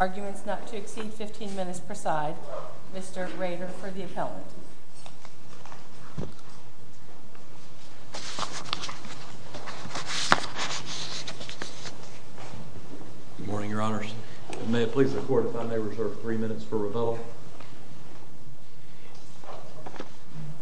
Arguments not to exceed 15 minutes preside. Mr. Rader for the appellant. Good morning, your honors. May it please the court if I may reserve three minutes for rebuttal?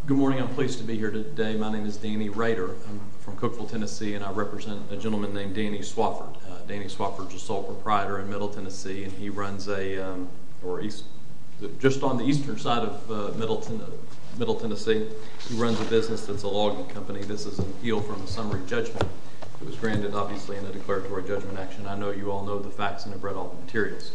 Good morning. I'm pleased to be here today. My name is Danny Rader. I'm from Cookville, Tennessee, and I represent a gentleman named Danny Swafford. Danny Swafford is a sole proprietor in Middle Tennessee, and he runs a—or he's just on the eastern side of Middle Tennessee. He runs a business that's a logging company. This is an appeal from the summary judgment. It was granted, obviously, in a declaratory judgment action. I know you all know the facts and have read all the materials.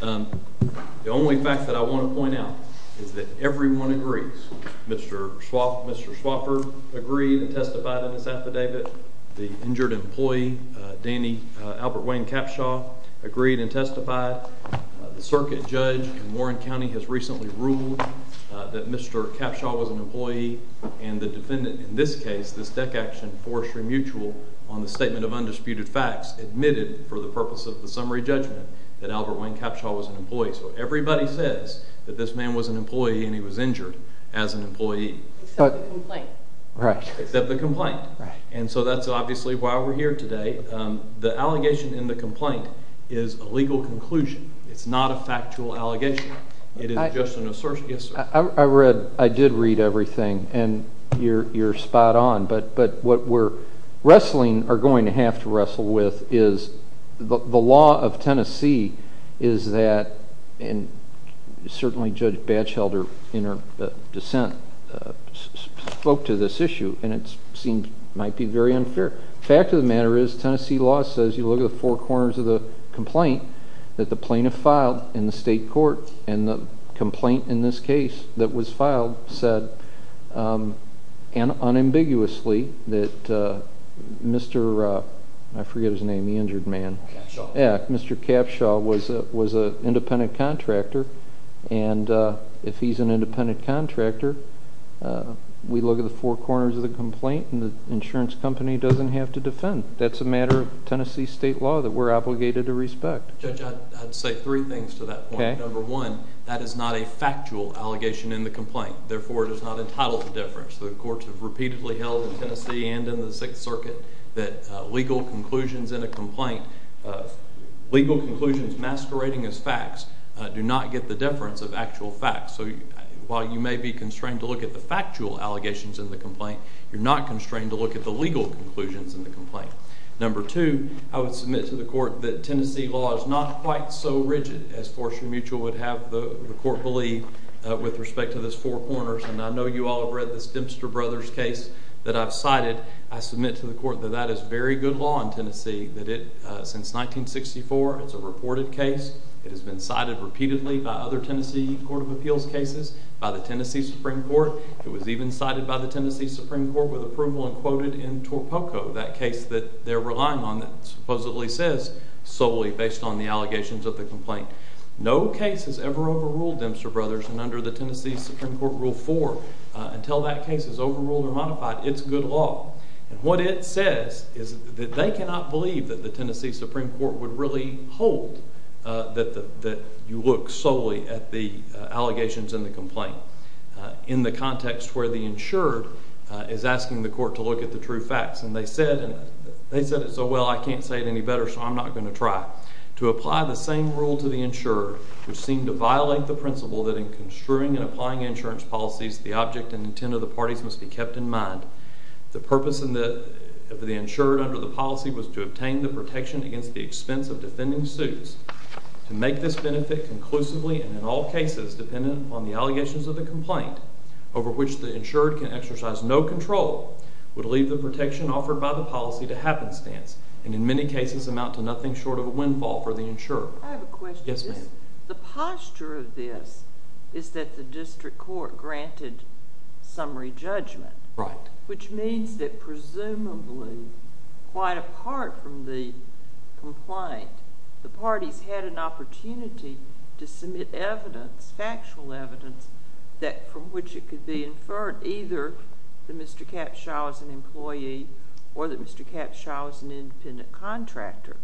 The only fact that I want to point out is that everyone agrees. Mr. Swafford agreed and testified in this affidavit. The injured employee, Danny—Albert Wayne Capshaw—agreed and testified. The circuit judge in Warren County has recently ruled that Mr. Capshaw was an employee, and the defendant in this case, this DEC action, Forestry Mutual, on the statement of undisputed facts, admitted for the purpose of the summary judgment that Albert Wayne Capshaw was an employee. So everybody says that this man was an employee and he was injured as an employee. Except the complaint. Right. Except the complaint. And so that's obviously why we're here today. The allegation in the complaint is a legal conclusion. It's not a factual allegation. It is just an assertion. I read—I did read everything, and you're spot on. But what we're wrestling—are going to have to wrestle with is the law of Tennessee is that— and certainly Judge Batchelder, in her dissent, spoke to this issue, and it might be very unfair. The fact of the matter is, Tennessee law says, you look at the four corners of the complaint, that the plaintiff filed in the state court, and the complaint in this case that was filed said, unambiguously, that Mr.—I forget his name, the injured man. Capshaw. Yeah, Mr. Capshaw was an independent contractor, and if he's an independent contractor, we look at the four corners of the complaint, and the insurance company doesn't have to defend. That's a matter of Tennessee state law that we're obligated to respect. Judge, I'd say three things to that point. Okay. Number one, that is not a factual allegation in the complaint. Therefore, it is not entitled to deference. The courts have repeatedly held in Tennessee and in the Sixth Circuit that legal conclusions in a complaint— legal conclusions masquerading as facts do not get the deference of actual facts. So while you may be constrained to look at the factual allegations in the complaint, you're not constrained to look at the legal conclusions in the complaint. Number two, I would submit to the court that Tennessee law is not quite so rigid as Forster Mutual would have the court believe with respect to those four corners, and I know you all have read this Dempster Brothers case that I've cited. I submit to the court that that is very good law in Tennessee, that it—since 1964, it's a reported case. It has been cited repeatedly by other Tennessee court of appeals cases, by the Tennessee Supreme Court. It was even cited by the Tennessee Supreme Court with approval and quoted in Torpoco, that case that they're relying on that supposedly says solely based on the allegations of the complaint. No case has ever overruled Dempster Brothers, and under the Tennessee Supreme Court Rule 4, until that case is overruled or modified, it's good law. And what it says is that they cannot believe that the Tennessee Supreme Court would really hold that you look solely at the allegations in the complaint. In the context where the insured is asking the court to look at the true facts. And they said it so well, I can't say it any better, so I'm not going to try. To apply the same rule to the insured, which seemed to violate the principle that in construing and applying insurance policies, the object and intent of the parties must be kept in mind. The purpose of the insured under the policy was to obtain the protection against the expense of defending suits. To make this benefit conclusively and in all cases dependent on the allegations of the complaint over which the insured can exercise no control would leave the protection offered by the policy to happenstance. And in many cases amount to nothing short of a windfall for the insured. I have a question. Yes, ma'am. The posture of this is that the district court granted summary judgment. Right. Which means that presumably, quite apart from the complaint, the parties had an opportunity to submit evidence, factual evidence, from which it could be inferred either that Mr. Capshaw is an employee or that Mr. Capshaw is an independent contractor.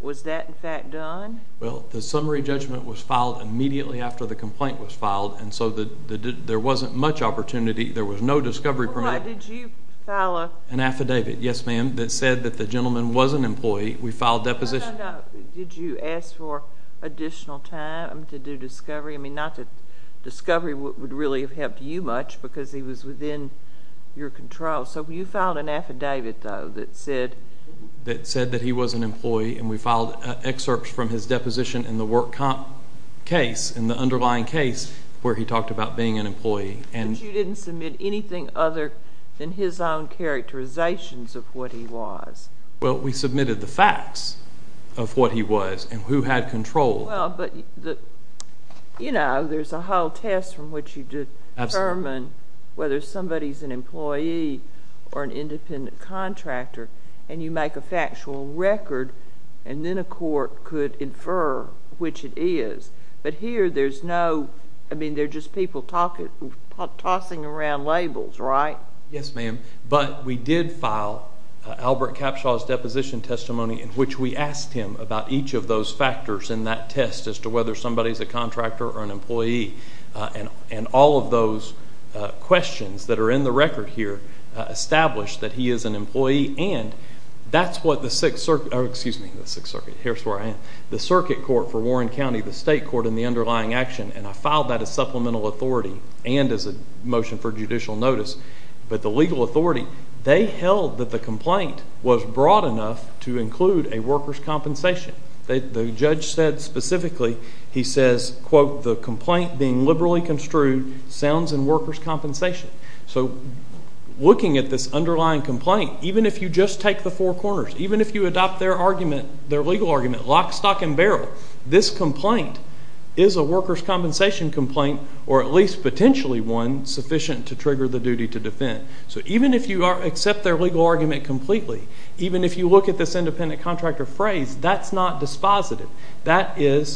Was that, in fact, done? Well, the summary judgment was filed immediately after the complaint was filed, and so there wasn't much opportunity. There was no discovery permit. Why, did you file a... An affidavit, yes, ma'am, that said that the gentleman was an employee. We filed deposition... No, no, no. Did you ask for additional time to do discovery? I mean, not that discovery would really have helped you much because he was within your control. So you filed an affidavit, though, that said... That said that he was an employee, and we filed excerpts from his deposition in the work comp case, in the underlying case where he talked about being an employee. But you didn't submit anything other than his own characterizations of what he was. Well, we submitted the facts of what he was and who had control. Well, but, you know, there's a whole test from which you determine whether somebody is an employee or an independent contractor, and you make a factual record, and then a court could infer which it is. But here, there's no... I mean, they're just people tossing around labels, right? Yes, ma'am. But we did file Albert Capshaw's deposition testimony in which we asked him about each of those factors in that test as to whether somebody is a contractor or an employee. And all of those questions that are in the record here establish that he is an employee, and that's what the Sixth Circuit... Oh, excuse me, the Sixth Circuit. Here's where I am. The circuit court for Warren County, the state court in the underlying action, and I filed that as supplemental authority and as a motion for judicial notice. But the legal authority, they held that the complaint was broad enough to include a workers' compensation. The judge said specifically, he says, quote, the complaint being liberally construed sounds in workers' compensation. So looking at this underlying complaint, even if you just take the four corners, even if you adopt their argument, their legal argument, lock, stock and barrel, this complaint is a workers' compensation complaint or at least potentially one sufficient to trigger the duty to defend. So even if you accept their legal argument completely, even if you look at this independent contractor phrase, that's not dispositive. That is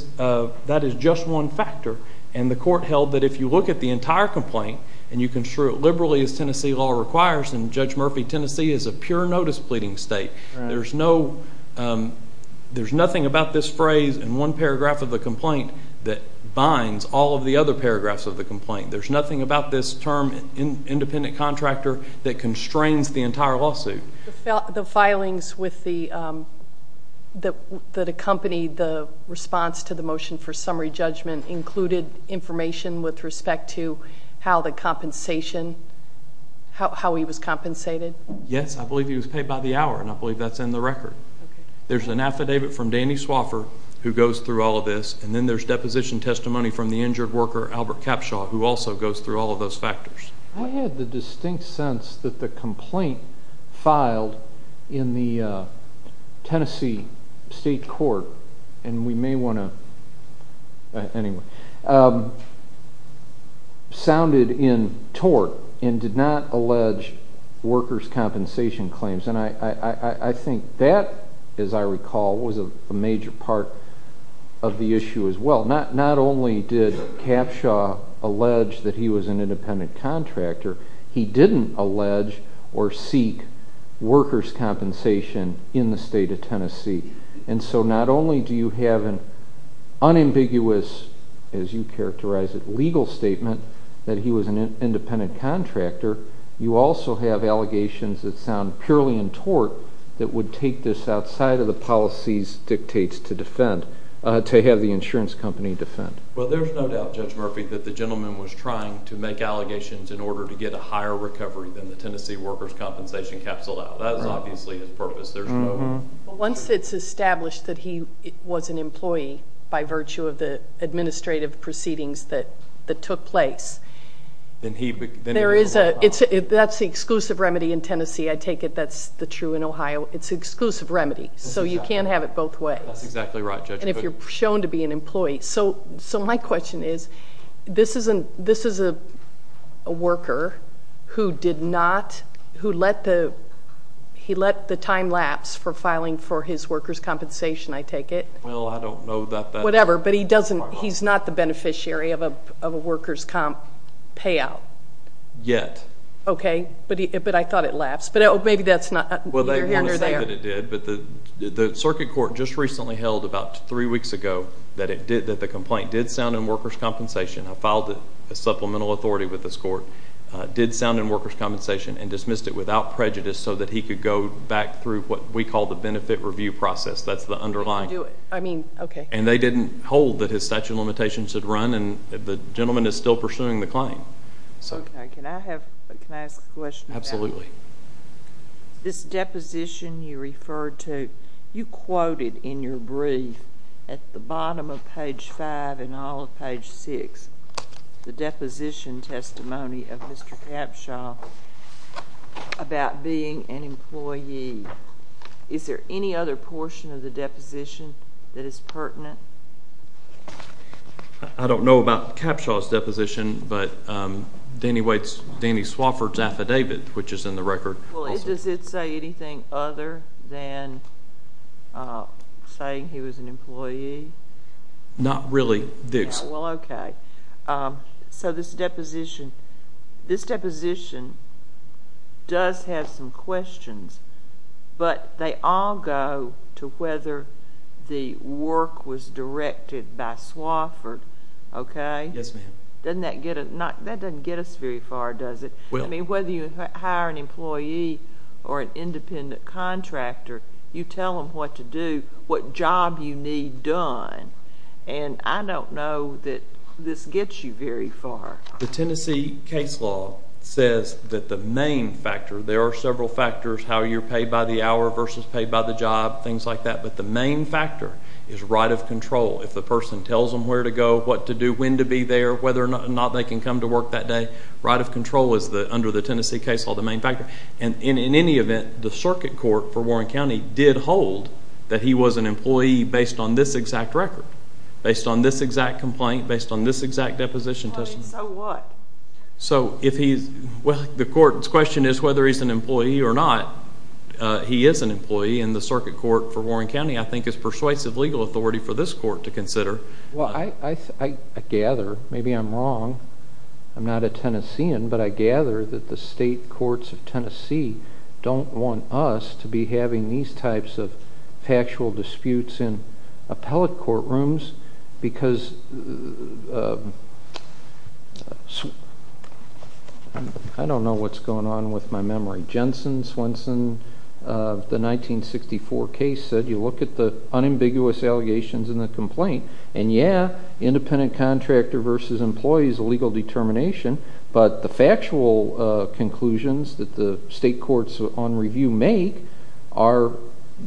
just one factor. And the court held that if you look at the entire complaint and you construe it liberally as Tennessee law requires, and Judge Murphy, Tennessee is a pure notice pleading state. There's nothing about this phrase in one paragraph of the complaint that binds all of the other paragraphs of the complaint. There's nothing about this term independent contractor that constrains the entire lawsuit. The filings that accompanied the response to the motion for summary judgment included information with respect to how the compensation, how he was compensated? Yes, I believe he was paid by the hour, and I believe that's in the record. There's an affidavit from Danny Swoffer who goes through all of this, and then there's deposition testimony from the injured worker Albert Capshaw who also goes through all of those factors. I had the distinct sense that the complaint filed in the Tennessee state court, and we may want to, anyway, sounded in tort and did not allege workers' compensation claims. And I think that, as I recall, was a major part of the issue as well. Not only did Capshaw allege that he was an independent contractor, he didn't allege or seek workers' compensation in the state of Tennessee. And so not only do you have an unambiguous, as you characterize it, legal statement that he was an independent contractor, you also have allegations that sound purely in tort that would take this outside of the policies dictates to defend, to have the insurance company defend. Well, there's no doubt, Judge Murphy, that the gentleman was trying to make allegations in order to get a higher recovery than the Tennessee workers' compensation capsule. That is obviously his purpose. Once it's established that he was an employee by virtue of the administrative proceedings that took place, that's the exclusive remedy in Tennessee. I take it that's true in Ohio. It's an exclusive remedy, so you can't have it both ways. That's exactly right, Judge. And if you're shown to be an employee. So my question is, this is a worker who let the time lapse for filing for his workers' compensation, I take it. Well, I don't know that that's part of it. Whatever, but he's not the beneficiary of a workers' comp payout. Yet. Okay, but I thought it lapsed. Maybe that's not under there. The circuit court just recently held about three weeks ago that the complaint did sound in workers' compensation. I filed a supplemental authority with this court. It did sound in workers' compensation and dismissed it without prejudice so that he could go back through what we call the benefit review process. That's the underlying. I mean, okay. And they didn't hold that his statute of limitations had run, and the gentleman is still pursuing the claim. Can I ask a question? Absolutely. This deposition you referred to, you quoted in your brief at the bottom of page five and all of page six, the deposition testimony of Mr. Capshaw about being an employee. Is there any other portion of the deposition that is pertinent? Danny Swofford's affidavit, which is in the record. Does it say anything other than saying he was an employee? Not really. Well, okay. So this deposition does have some questions, but they all go to whether the work was directed by Swofford, okay? Yes, ma'am. That doesn't get us very far, does it? I mean, whether you hire an employee or an independent contractor, you tell them what to do, what job you need done, and I don't know that this gets you very far. The Tennessee case law says that the main factor, there are several factors, how you're paid by the hour versus paid by the job, things like that, but the main factor is right of control. If the person tells them where to go, what to do, when to be there, whether or not they can come to work that day, right of control is under the Tennessee case law the main factor. And in any event, the circuit court for Warren County did hold that he was an employee based on this exact record, based on this exact complaint, based on this exact deposition testimony. So what? Well, the court's question is whether he's an employee or not. He is an employee, and the circuit court for Warren County, I think, is persuasive legal authority for this court to consider. Well, I gather, maybe I'm wrong, I'm not a Tennessean, but I gather that the state courts of Tennessee don't want us to be having these types of factual disputes in appellate courtrooms because I don't know what's going on with my memory. Jensen Swenson of the 1964 case said, you look at the unambiguous allegations in the complaint, and yeah, independent contractor versus employee is a legal determination, but the factual conclusions that the state courts on review make are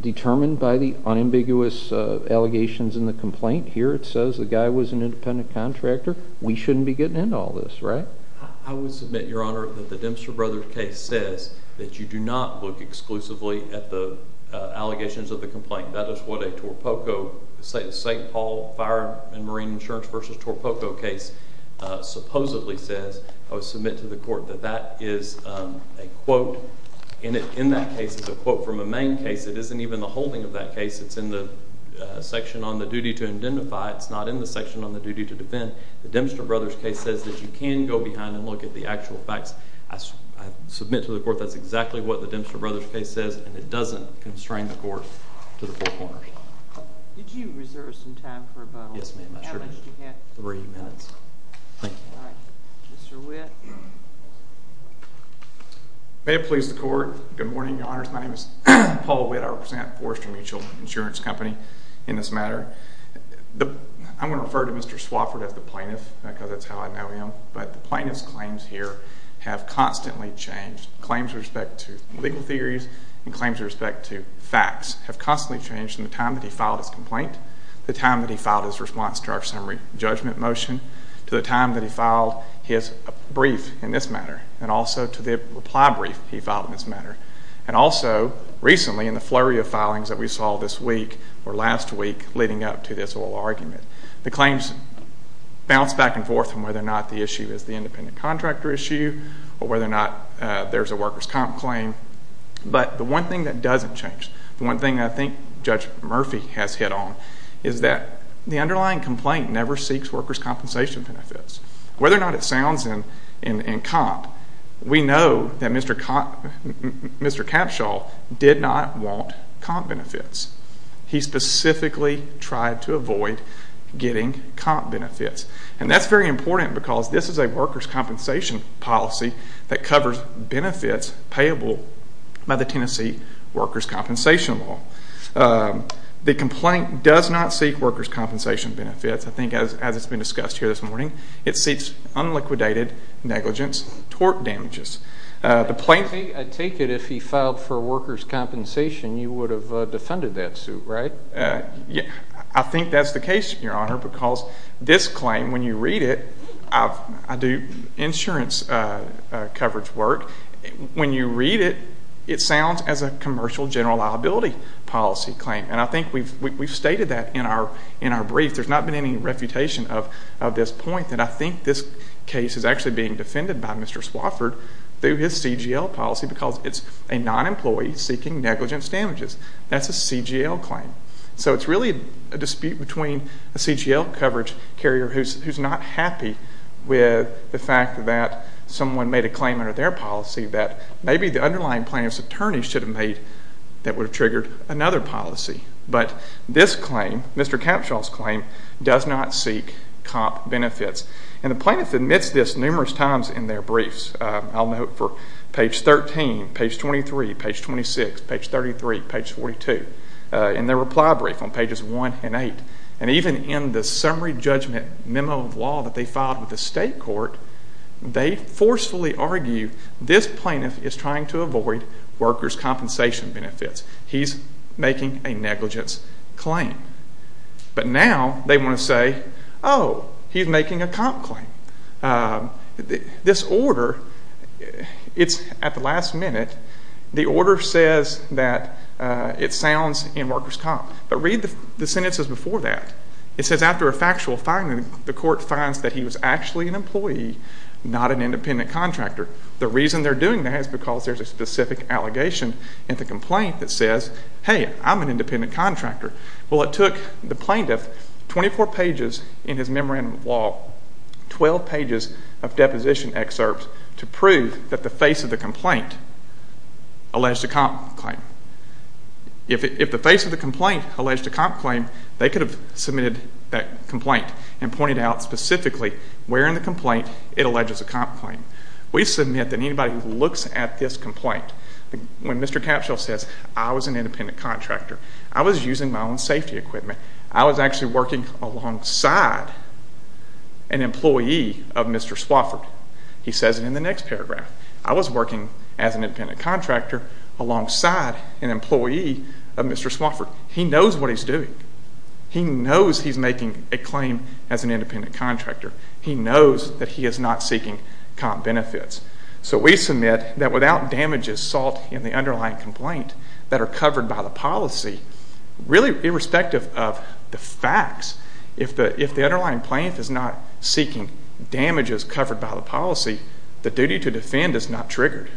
determined by the unambiguous allegations in the complaint. Here it says the guy was an independent contractor. We shouldn't be getting into all this, right? I would submit, Your Honor, that the Dempster Brothers case says that you do not look exclusively at the allegations of the complaint. That is what a St. Paul Fire and Marine Insurance v. Torpoco case supposedly says. I would submit to the court that that is a quote, and in that case it's a quote from a main case. It isn't even the holding of that case. It's in the section on the duty to identify. It's not in the section on the duty to defend. The Dempster Brothers case says that you can go behind and look at the actual facts. I submit to the court that's exactly what the Dempster Brothers case says, and it doesn't constrain the court to the four corners. Did you reserve some time for rebuttal? Yes, ma'am, I sure did. How much do you have? Three minutes. Thank you. All right. Mr. Witt. May it please the court. Good morning, Your Honors. My name is Paul Witt. I represent Forrester Mutual Insurance Company in this matter. I'm going to refer to Mr. Swofford as the plaintiff because that's how I know him, but the plaintiff's claims here have constantly changed. Claims with respect to legal theories and claims with respect to facts have constantly changed from the time that he filed his complaint, the time that he filed his response to our summary judgment motion, to the time that he filed his brief in this matter, and also to the reply brief he filed in this matter, and also recently in the flurry of filings that we saw this week or last week leading up to this whole argument. The claims bounce back and forth on whether or not the issue is the independent contractor issue or whether or not there's a workers' comp claim, but the one thing that doesn't change, the one thing I think Judge Murphy has hit on, is that the underlying complaint never seeks workers' compensation benefits. Whether or not it sounds in comp, we know that Mr. Capshaw did not want comp benefits. He specifically tried to avoid getting comp benefits, and that's very important because this is a workers' compensation policy that covers benefits payable by the Tennessee workers' compensation law. The complaint does not seek workers' compensation benefits. I think as it's been discussed here this morning, it seeks unliquidated negligence tort damages. I take it if he filed for workers' compensation, you would have defended that suit, right? I think that's the case, Your Honor, because this claim, when you read it, I do insurance coverage work. When you read it, it sounds as a commercial general liability policy claim, and I think we've stated that in our brief. There's not been any refutation of this point, and I think this case is actually being defended by Mr. Swofford through his CGL policy because it's a non-employee seeking negligence damages. That's a CGL claim. So it's really a dispute between a CGL coverage carrier who's not happy with the fact that someone made a claim under their policy that maybe the underlying plaintiff's attorney should have made that would have triggered another policy. But this claim, Mr. Capshaw's claim, does not seek comp benefits. And the plaintiff admits this numerous times in their briefs. I'll note for page 13, page 23, page 26, page 33, page 42, in their reply brief on pages 1 and 8. And even in the summary judgment memo of law that they filed with the state court, they forcefully argue this plaintiff is trying to avoid workers' compensation benefits. He's making a negligence claim. But now they want to say, oh, he's making a comp claim. This order, it's at the last minute. The order says that it sounds in workers' comp. But read the sentences before that. It says after a factual finding, the court finds that he was actually an employee, not an independent contractor. The reason they're doing that is because there's a specific allegation in the complaint that says, hey, I'm an independent contractor. Well, it took the plaintiff 24 pages in his memorandum of law, 12 pages of deposition excerpts to prove that the face of the complaint alleged a comp claim. If the face of the complaint alleged a comp claim, they could have submitted that complaint and pointed out specifically where in the complaint it alleges a comp claim. We submit that anybody who looks at this complaint, when Mr. Capshaw says I was an independent contractor, I was using my own safety equipment, I was actually working alongside an employee of Mr. Swofford. He says it in the next paragraph. I was working as an independent contractor alongside an employee of Mr. Swofford. He knows what he's doing. He knows he's making a claim as an independent contractor. He knows that he is not seeking comp benefits. So we submit that without damages sought in the underlying complaint that are covered by the policy, really irrespective of the facts, if the underlying plaintiff is not seeking damages covered by the policy, the duty to defend is not triggered.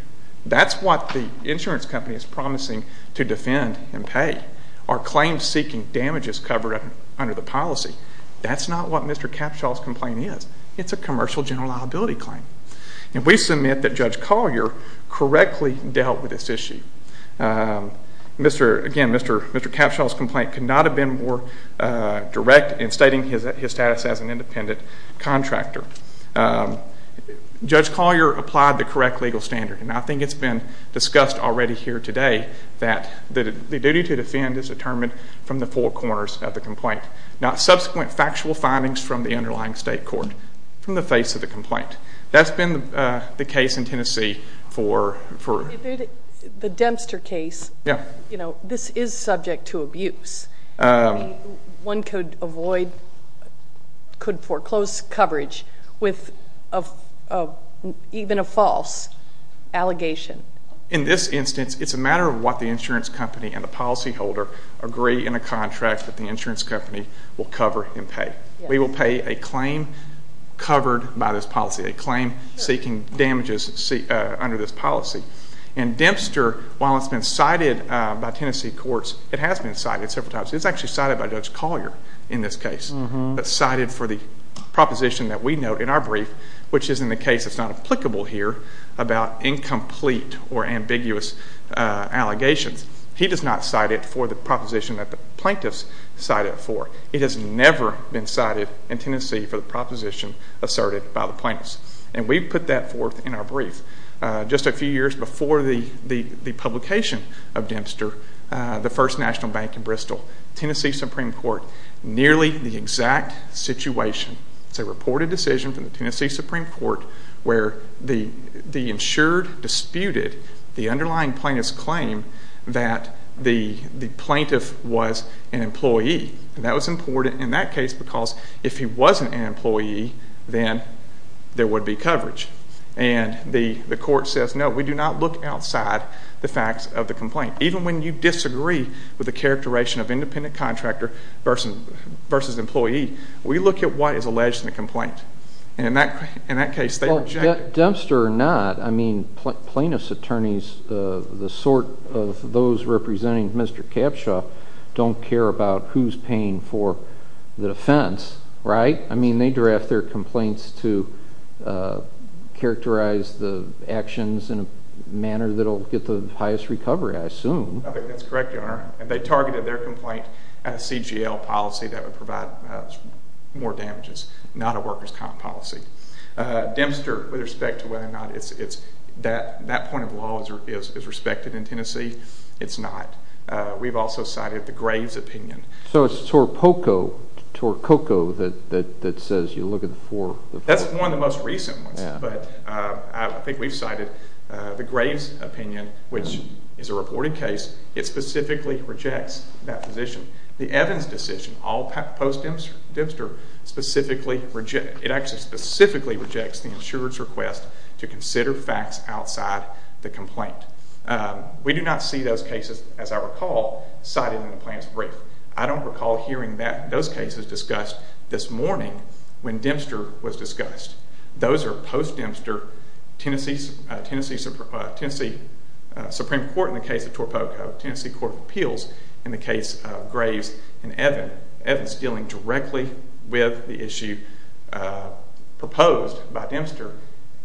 That's what the insurance company is promising to defend and pay, are claims seeking damages covered under the policy. That's not what Mr. Capshaw's complaint is. It's a commercial general liability claim. And we submit that Judge Collier correctly dealt with this issue. Again, Mr. Capshaw's complaint could not have been more direct in stating his status as an independent contractor. Judge Collier applied the correct legal standard, and I think it's been discussed already here today that the duty to defend is determined from the four corners of the complaint, not subsequent factual findings from the underlying state court, but determined from the face of the complaint. That's been the case in Tennessee for... The Dempster case, this is subject to abuse. One could avoid, could foreclose coverage with even a false allegation. In this instance, it's a matter of what the insurance company and the policyholder agree in a contract that the insurance company will cover and pay. We will pay a claim covered by this policy, a claim seeking damages under this policy. And Dempster, while it's been cited by Tennessee courts, it has been cited several times. It's actually cited by Judge Collier in this case. It's cited for the proposition that we note in our brief, which is in the case that's not applicable here, about incomplete or ambiguous allegations. He does not cite it for the proposition that the plaintiffs cite it for. It has never been cited in Tennessee for the proposition asserted by the plaintiffs. And we've put that forth in our brief. Just a few years before the publication of Dempster, the first national bank in Bristol, Tennessee Supreme Court, nearly the exact situation, it's a reported decision from the Tennessee Supreme Court where the insured disputed the underlying plaintiff's claim that the plaintiff was an employee. And that was important in that case because if he wasn't an employee, then there would be coverage. And the court says, no, we do not look outside the facts of the complaint. Even when you disagree with the characterization of independent contractor versus employee, we look at what is alleged in the complaint. And in that case, they reject it. The sort of those representing Mr. Capshaw don't care about who's paying for the defense, right? I mean, they draft their complaints to characterize the actions in a manner that will get the highest recovery, I assume. I think that's correct, Your Honor. If they targeted their complaint as a CGL policy, that would provide more damages, not a workers' comp policy. Dempster, with respect to whether or not that point of law is respected in Tennessee, it's not. We've also cited the Graves opinion. So it's Torpoco that says you look at the four. That's one of the most recent ones, but I think we've cited the Graves opinion, which is a reported case. It specifically rejects that position. The Evans decision, all post-Dempster, it actually specifically rejects the insurer's request to consider facts outside the complaint. We do not see those cases, as I recall, cited in the plaintiff's brief. I don't recall hearing those cases discussed this morning when Dempster was discussed. Those are post-Dempster, Tennessee Supreme Court in the case of Torpoco, Tennessee Court of Appeals in the case of Graves and Evans. Evans is dealing directly with the issue proposed by Dempster,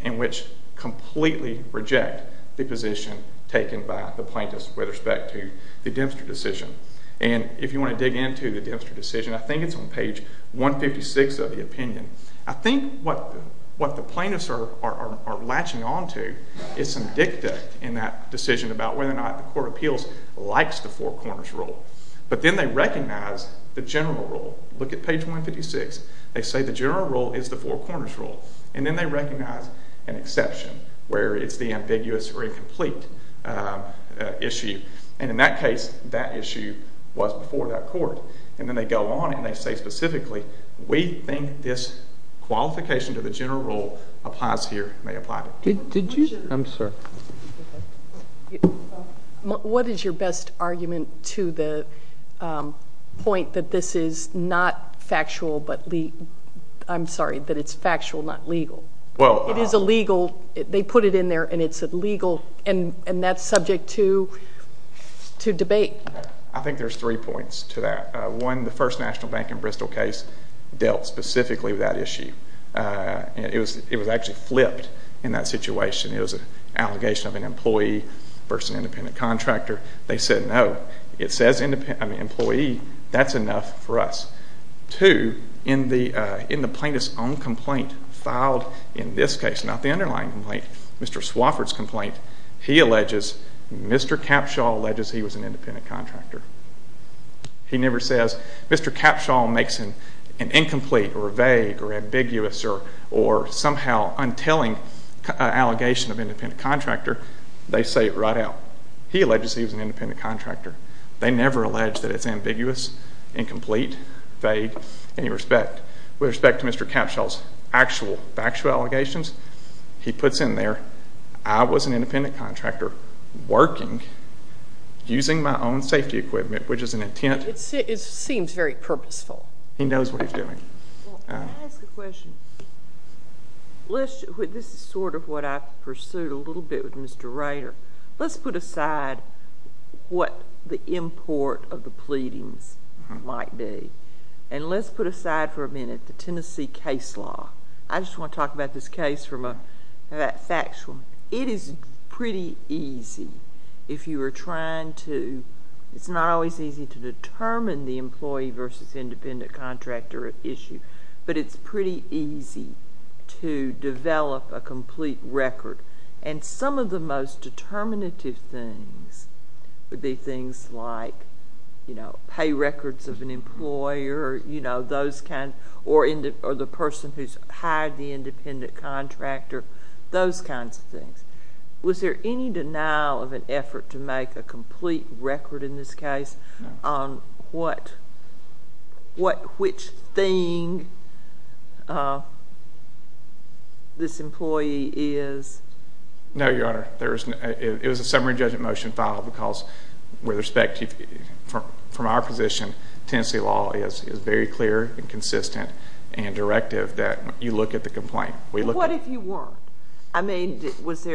in which completely reject the position taken by the plaintiffs with respect to the Dempster decision. And if you want to dig into the Dempster decision, I think it's on page 156 of the opinion. I think what the plaintiffs are latching onto is some dicta in that decision about whether or not the Court of Appeals likes the four corners rule. But then they recognize the general rule. Look at page 156. They say the general rule is the four corners rule, and then they recognize an exception where it's the ambiguous or incomplete issue. And in that case, that issue was before that court. And then they go on and they say specifically, we think this qualification to the general rule applies here. Did you? I'm sorry. What is your best argument to the point that this is not factual but legal? I'm sorry, that it's factual, not legal. It is illegal. They put it in there, and it's illegal, and that's subject to debate. I think there's three points to that. One, the first national bank in Bristol case dealt specifically with that issue. It was actually flipped in that situation. It was an allegation of an employee versus an independent contractor. They said no. It says employee. That's enough for us. Two, in the plaintiff's own complaint filed in this case, not the underlying complaint, Mr. Swofford's complaint, he alleges, Mr. Capshaw alleges he was an independent contractor. He never says, Mr. Capshaw makes an incomplete or vague or ambiguous or somehow untelling allegation of independent contractor. They say it right out. He alleges he was an independent contractor. They never allege that it's ambiguous, incomplete, vague, any respect. With respect to Mr. Capshaw's actual factual allegations, he puts in there, I was an independent contractor working using my own safety equipment, which is an intent. It seems very purposeful. He knows what he's doing. Can I ask a question? This is sort of what I pursued a little bit with Mr. Rader. Let's put aside what the import of the pleadings might be, and let's put aside for a minute the Tennessee case law. I just want to talk about this case from a factual... It is pretty easy if you were trying to... It's not always easy to determine the employee versus independent contractor issue, but it's pretty easy to develop a complete record. Some of the most determinative things would be things like pay records of an employer, or the person who's hired the independent contractor, those kinds of things. Was there any denial of an effort to make a complete record in this case on which thing this employee is? No, Your Honor. It was a summary judgment motion filed because, from our position, Tennessee law is very clear and consistent and directive that you look at the complaint. What if you weren't? Because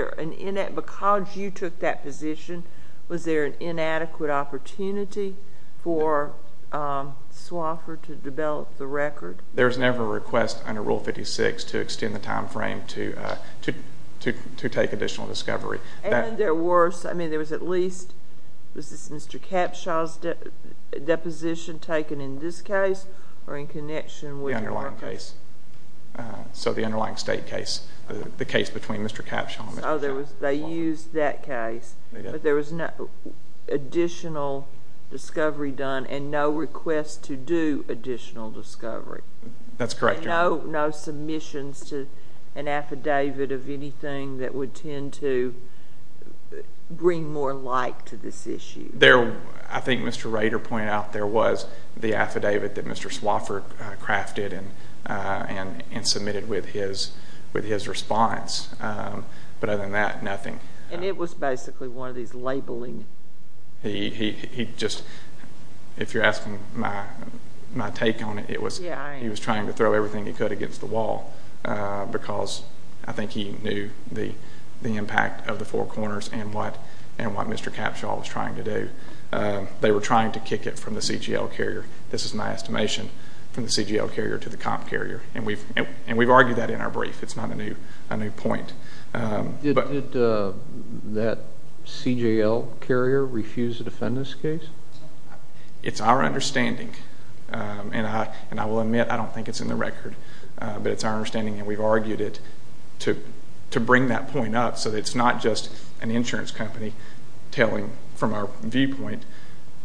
you took that position, was there an inadequate opportunity for Swofford to develop the record? There's never a request under Rule 56 to extend the time frame to take additional discovery. And there was... I mean, there was at least... Was this Mr. Capshaw's deposition taken in this case or in connection with... The underlying case. So the underlying state case, the case between Mr. Capshaw and Mr. Swofford. They used that case, but there was no additional discovery done and no request to do additional discovery. That's correct, Your Honor. And no submissions to an affidavit of anything that would tend to bring more light to this issue. I think Mr. Rader pointed out there was the affidavit that Mr. Swofford crafted and submitted with his response. But other than that, nothing. And it was basically one of these labeling... He just... if you're asking my take on it, it was... Yeah, I am. He was trying to throw everything he could against the wall because I think he knew the impact of the four corners and what Mr. Capshaw was trying to do. They were trying to kick it from the CGL carrier, this is my estimation, from the CGL carrier to the comp carrier. And we've argued that in our brief. It's not a new point. Did that CGL carrier refuse to defend this case? It's our understanding, and I will admit I don't think it's in the record, but it's our understanding that we've argued it to bring that point up so that it's not just an insurance company telling from our viewpoint,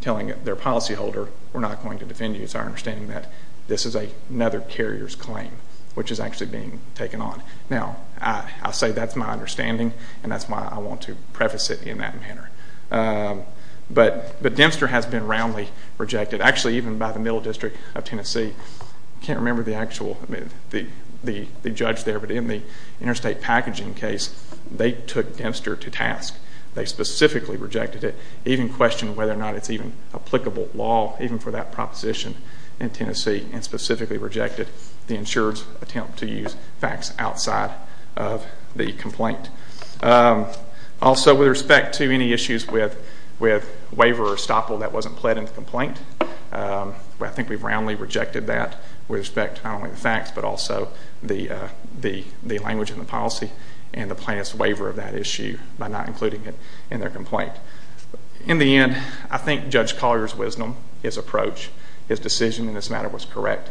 telling their policyholder, we're not going to defend you. It's our understanding that this is another carrier's claim, which is actually being taken on. Now, I say that's my understanding, and that's why I want to preface it in that manner. But Dempster has been roundly rejected. Actually, even by the Middle District of Tennessee. I can't remember the judge there, but in the interstate packaging case, they took Dempster to task. They specifically rejected it. Even questioned whether or not it's even applicable law, even for that proposition in Tennessee, and specifically rejected the insurer's attempt to use facts outside of the complaint. Also, with respect to any issues with waiver or estoppel that wasn't pled in the complaint, I think we've roundly rejected that with respect to not only the facts, but also the language in the policy and the plaintiff's waiver of that issue by not including it in their complaint. In the end, I think Judge Collier's wisdom, his approach, his decision in this matter was correct.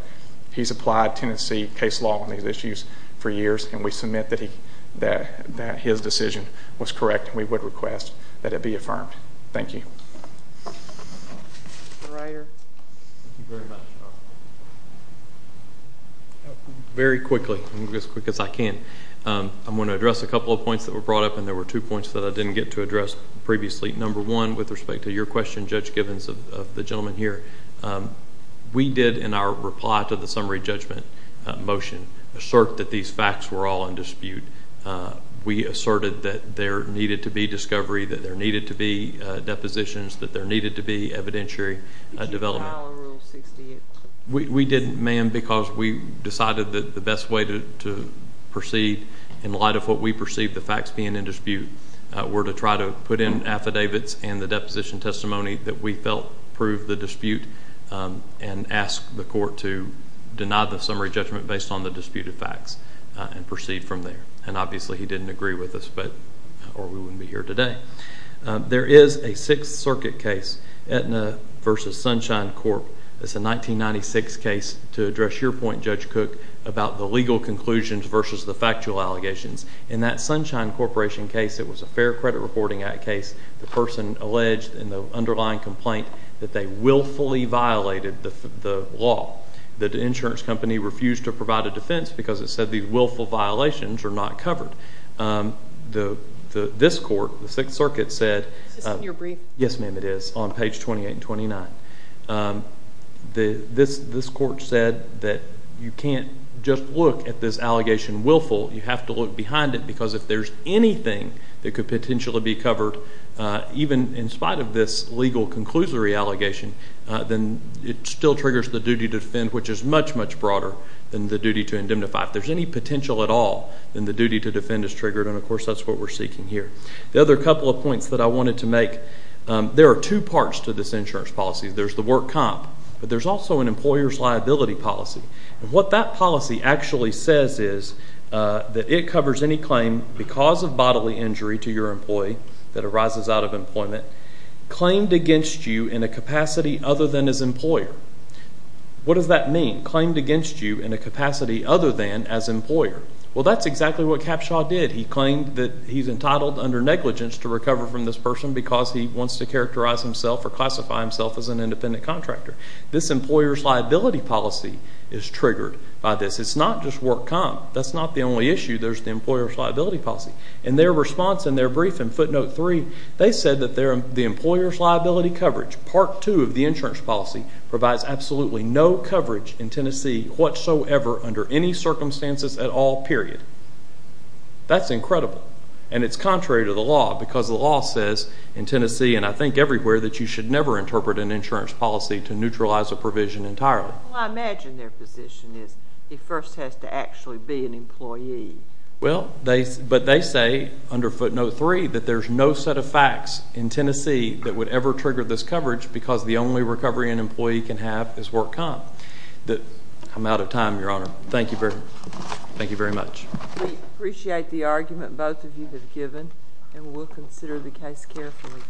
He's applied Tennessee case law on these issues for years, and we submit that his decision was correct, and we would request that it be affirmed. Thank you. Very quickly, as quick as I can, I'm going to address a couple of points that were brought up, and there were two points that I didn't get to address previously. Number one, with respect to your question, Judge Gibbons, of the gentleman here, we did in our reply to the summary judgment motion assert that these facts were all in dispute. We asserted that there needed to be discovery, that there needed to be depositions, that there needed to be evidentiary development. Did you file Rule 68? We didn't, ma'am, because we decided that the best way to proceed, in light of what we perceived the facts being in dispute, were to try to put in affidavits and the deposition testimony that we felt proved the dispute and ask the court to deny the summary judgment based on the disputed facts and proceed from there. Obviously, he didn't agree with us, or we wouldn't be here today. There is a Sixth Circuit case, Aetna v. Sunshine Corp. It's a 1996 case. To address your point, Judge Cook, about the legal conclusions versus the factual allegations, in that Sunshine Corp. case, it was a Fair Credit Reporting Act case. The person alleged in the underlying complaint that they willfully violated the law. The insurance company refused to provide a defense because it said these willful violations are not covered. This court, the Sixth Circuit, said— Is this in your brief? Yes, ma'am, it is, on page 28 and 29. This court said that you can't just look at this allegation willfully. You have to look behind it because if there's anything that could potentially be covered, even in spite of this legal conclusory allegation, then it still triggers the duty to defend, which is much, much broader than the duty to indemnify. If there's any potential at all, then the duty to defend is triggered, and, of course, that's what we're seeking here. The other couple of points that I wanted to make, there are two parts to this insurance policy. There's the work comp, but there's also an employer's liability policy, and what that policy actually says is that it covers any claim, because of bodily injury to your employee that arises out of employment, claimed against you in a capacity other than as employer. What does that mean, claimed against you in a capacity other than as employer? Well, that's exactly what Capshaw did. He claimed that he's entitled under negligence to recover from this person because he wants to characterize himself or classify himself as an independent contractor. This employer's liability policy is triggered by this. It's not just work comp. That's not the only issue. There's the employer's liability policy. In their response in their brief in footnote three, they said that the employer's liability coverage, part two of the insurance policy, provides absolutely no coverage in Tennessee whatsoever under any circumstances at all, period. That's incredible, and it's contrary to the law, because the law says in Tennessee and I think everywhere that you should never interpret an insurance policy to neutralize a provision entirely. Well, I imagine their position is it first has to actually be an employee. Well, but they say under footnote three that there's no set of facts in Tennessee that would ever trigger this coverage because the only recovery an employee can have is work comp. I'm out of time, Your Honor. Thank you very much. We appreciate the argument both of you have given, and we'll consider the case carefully. Thank you.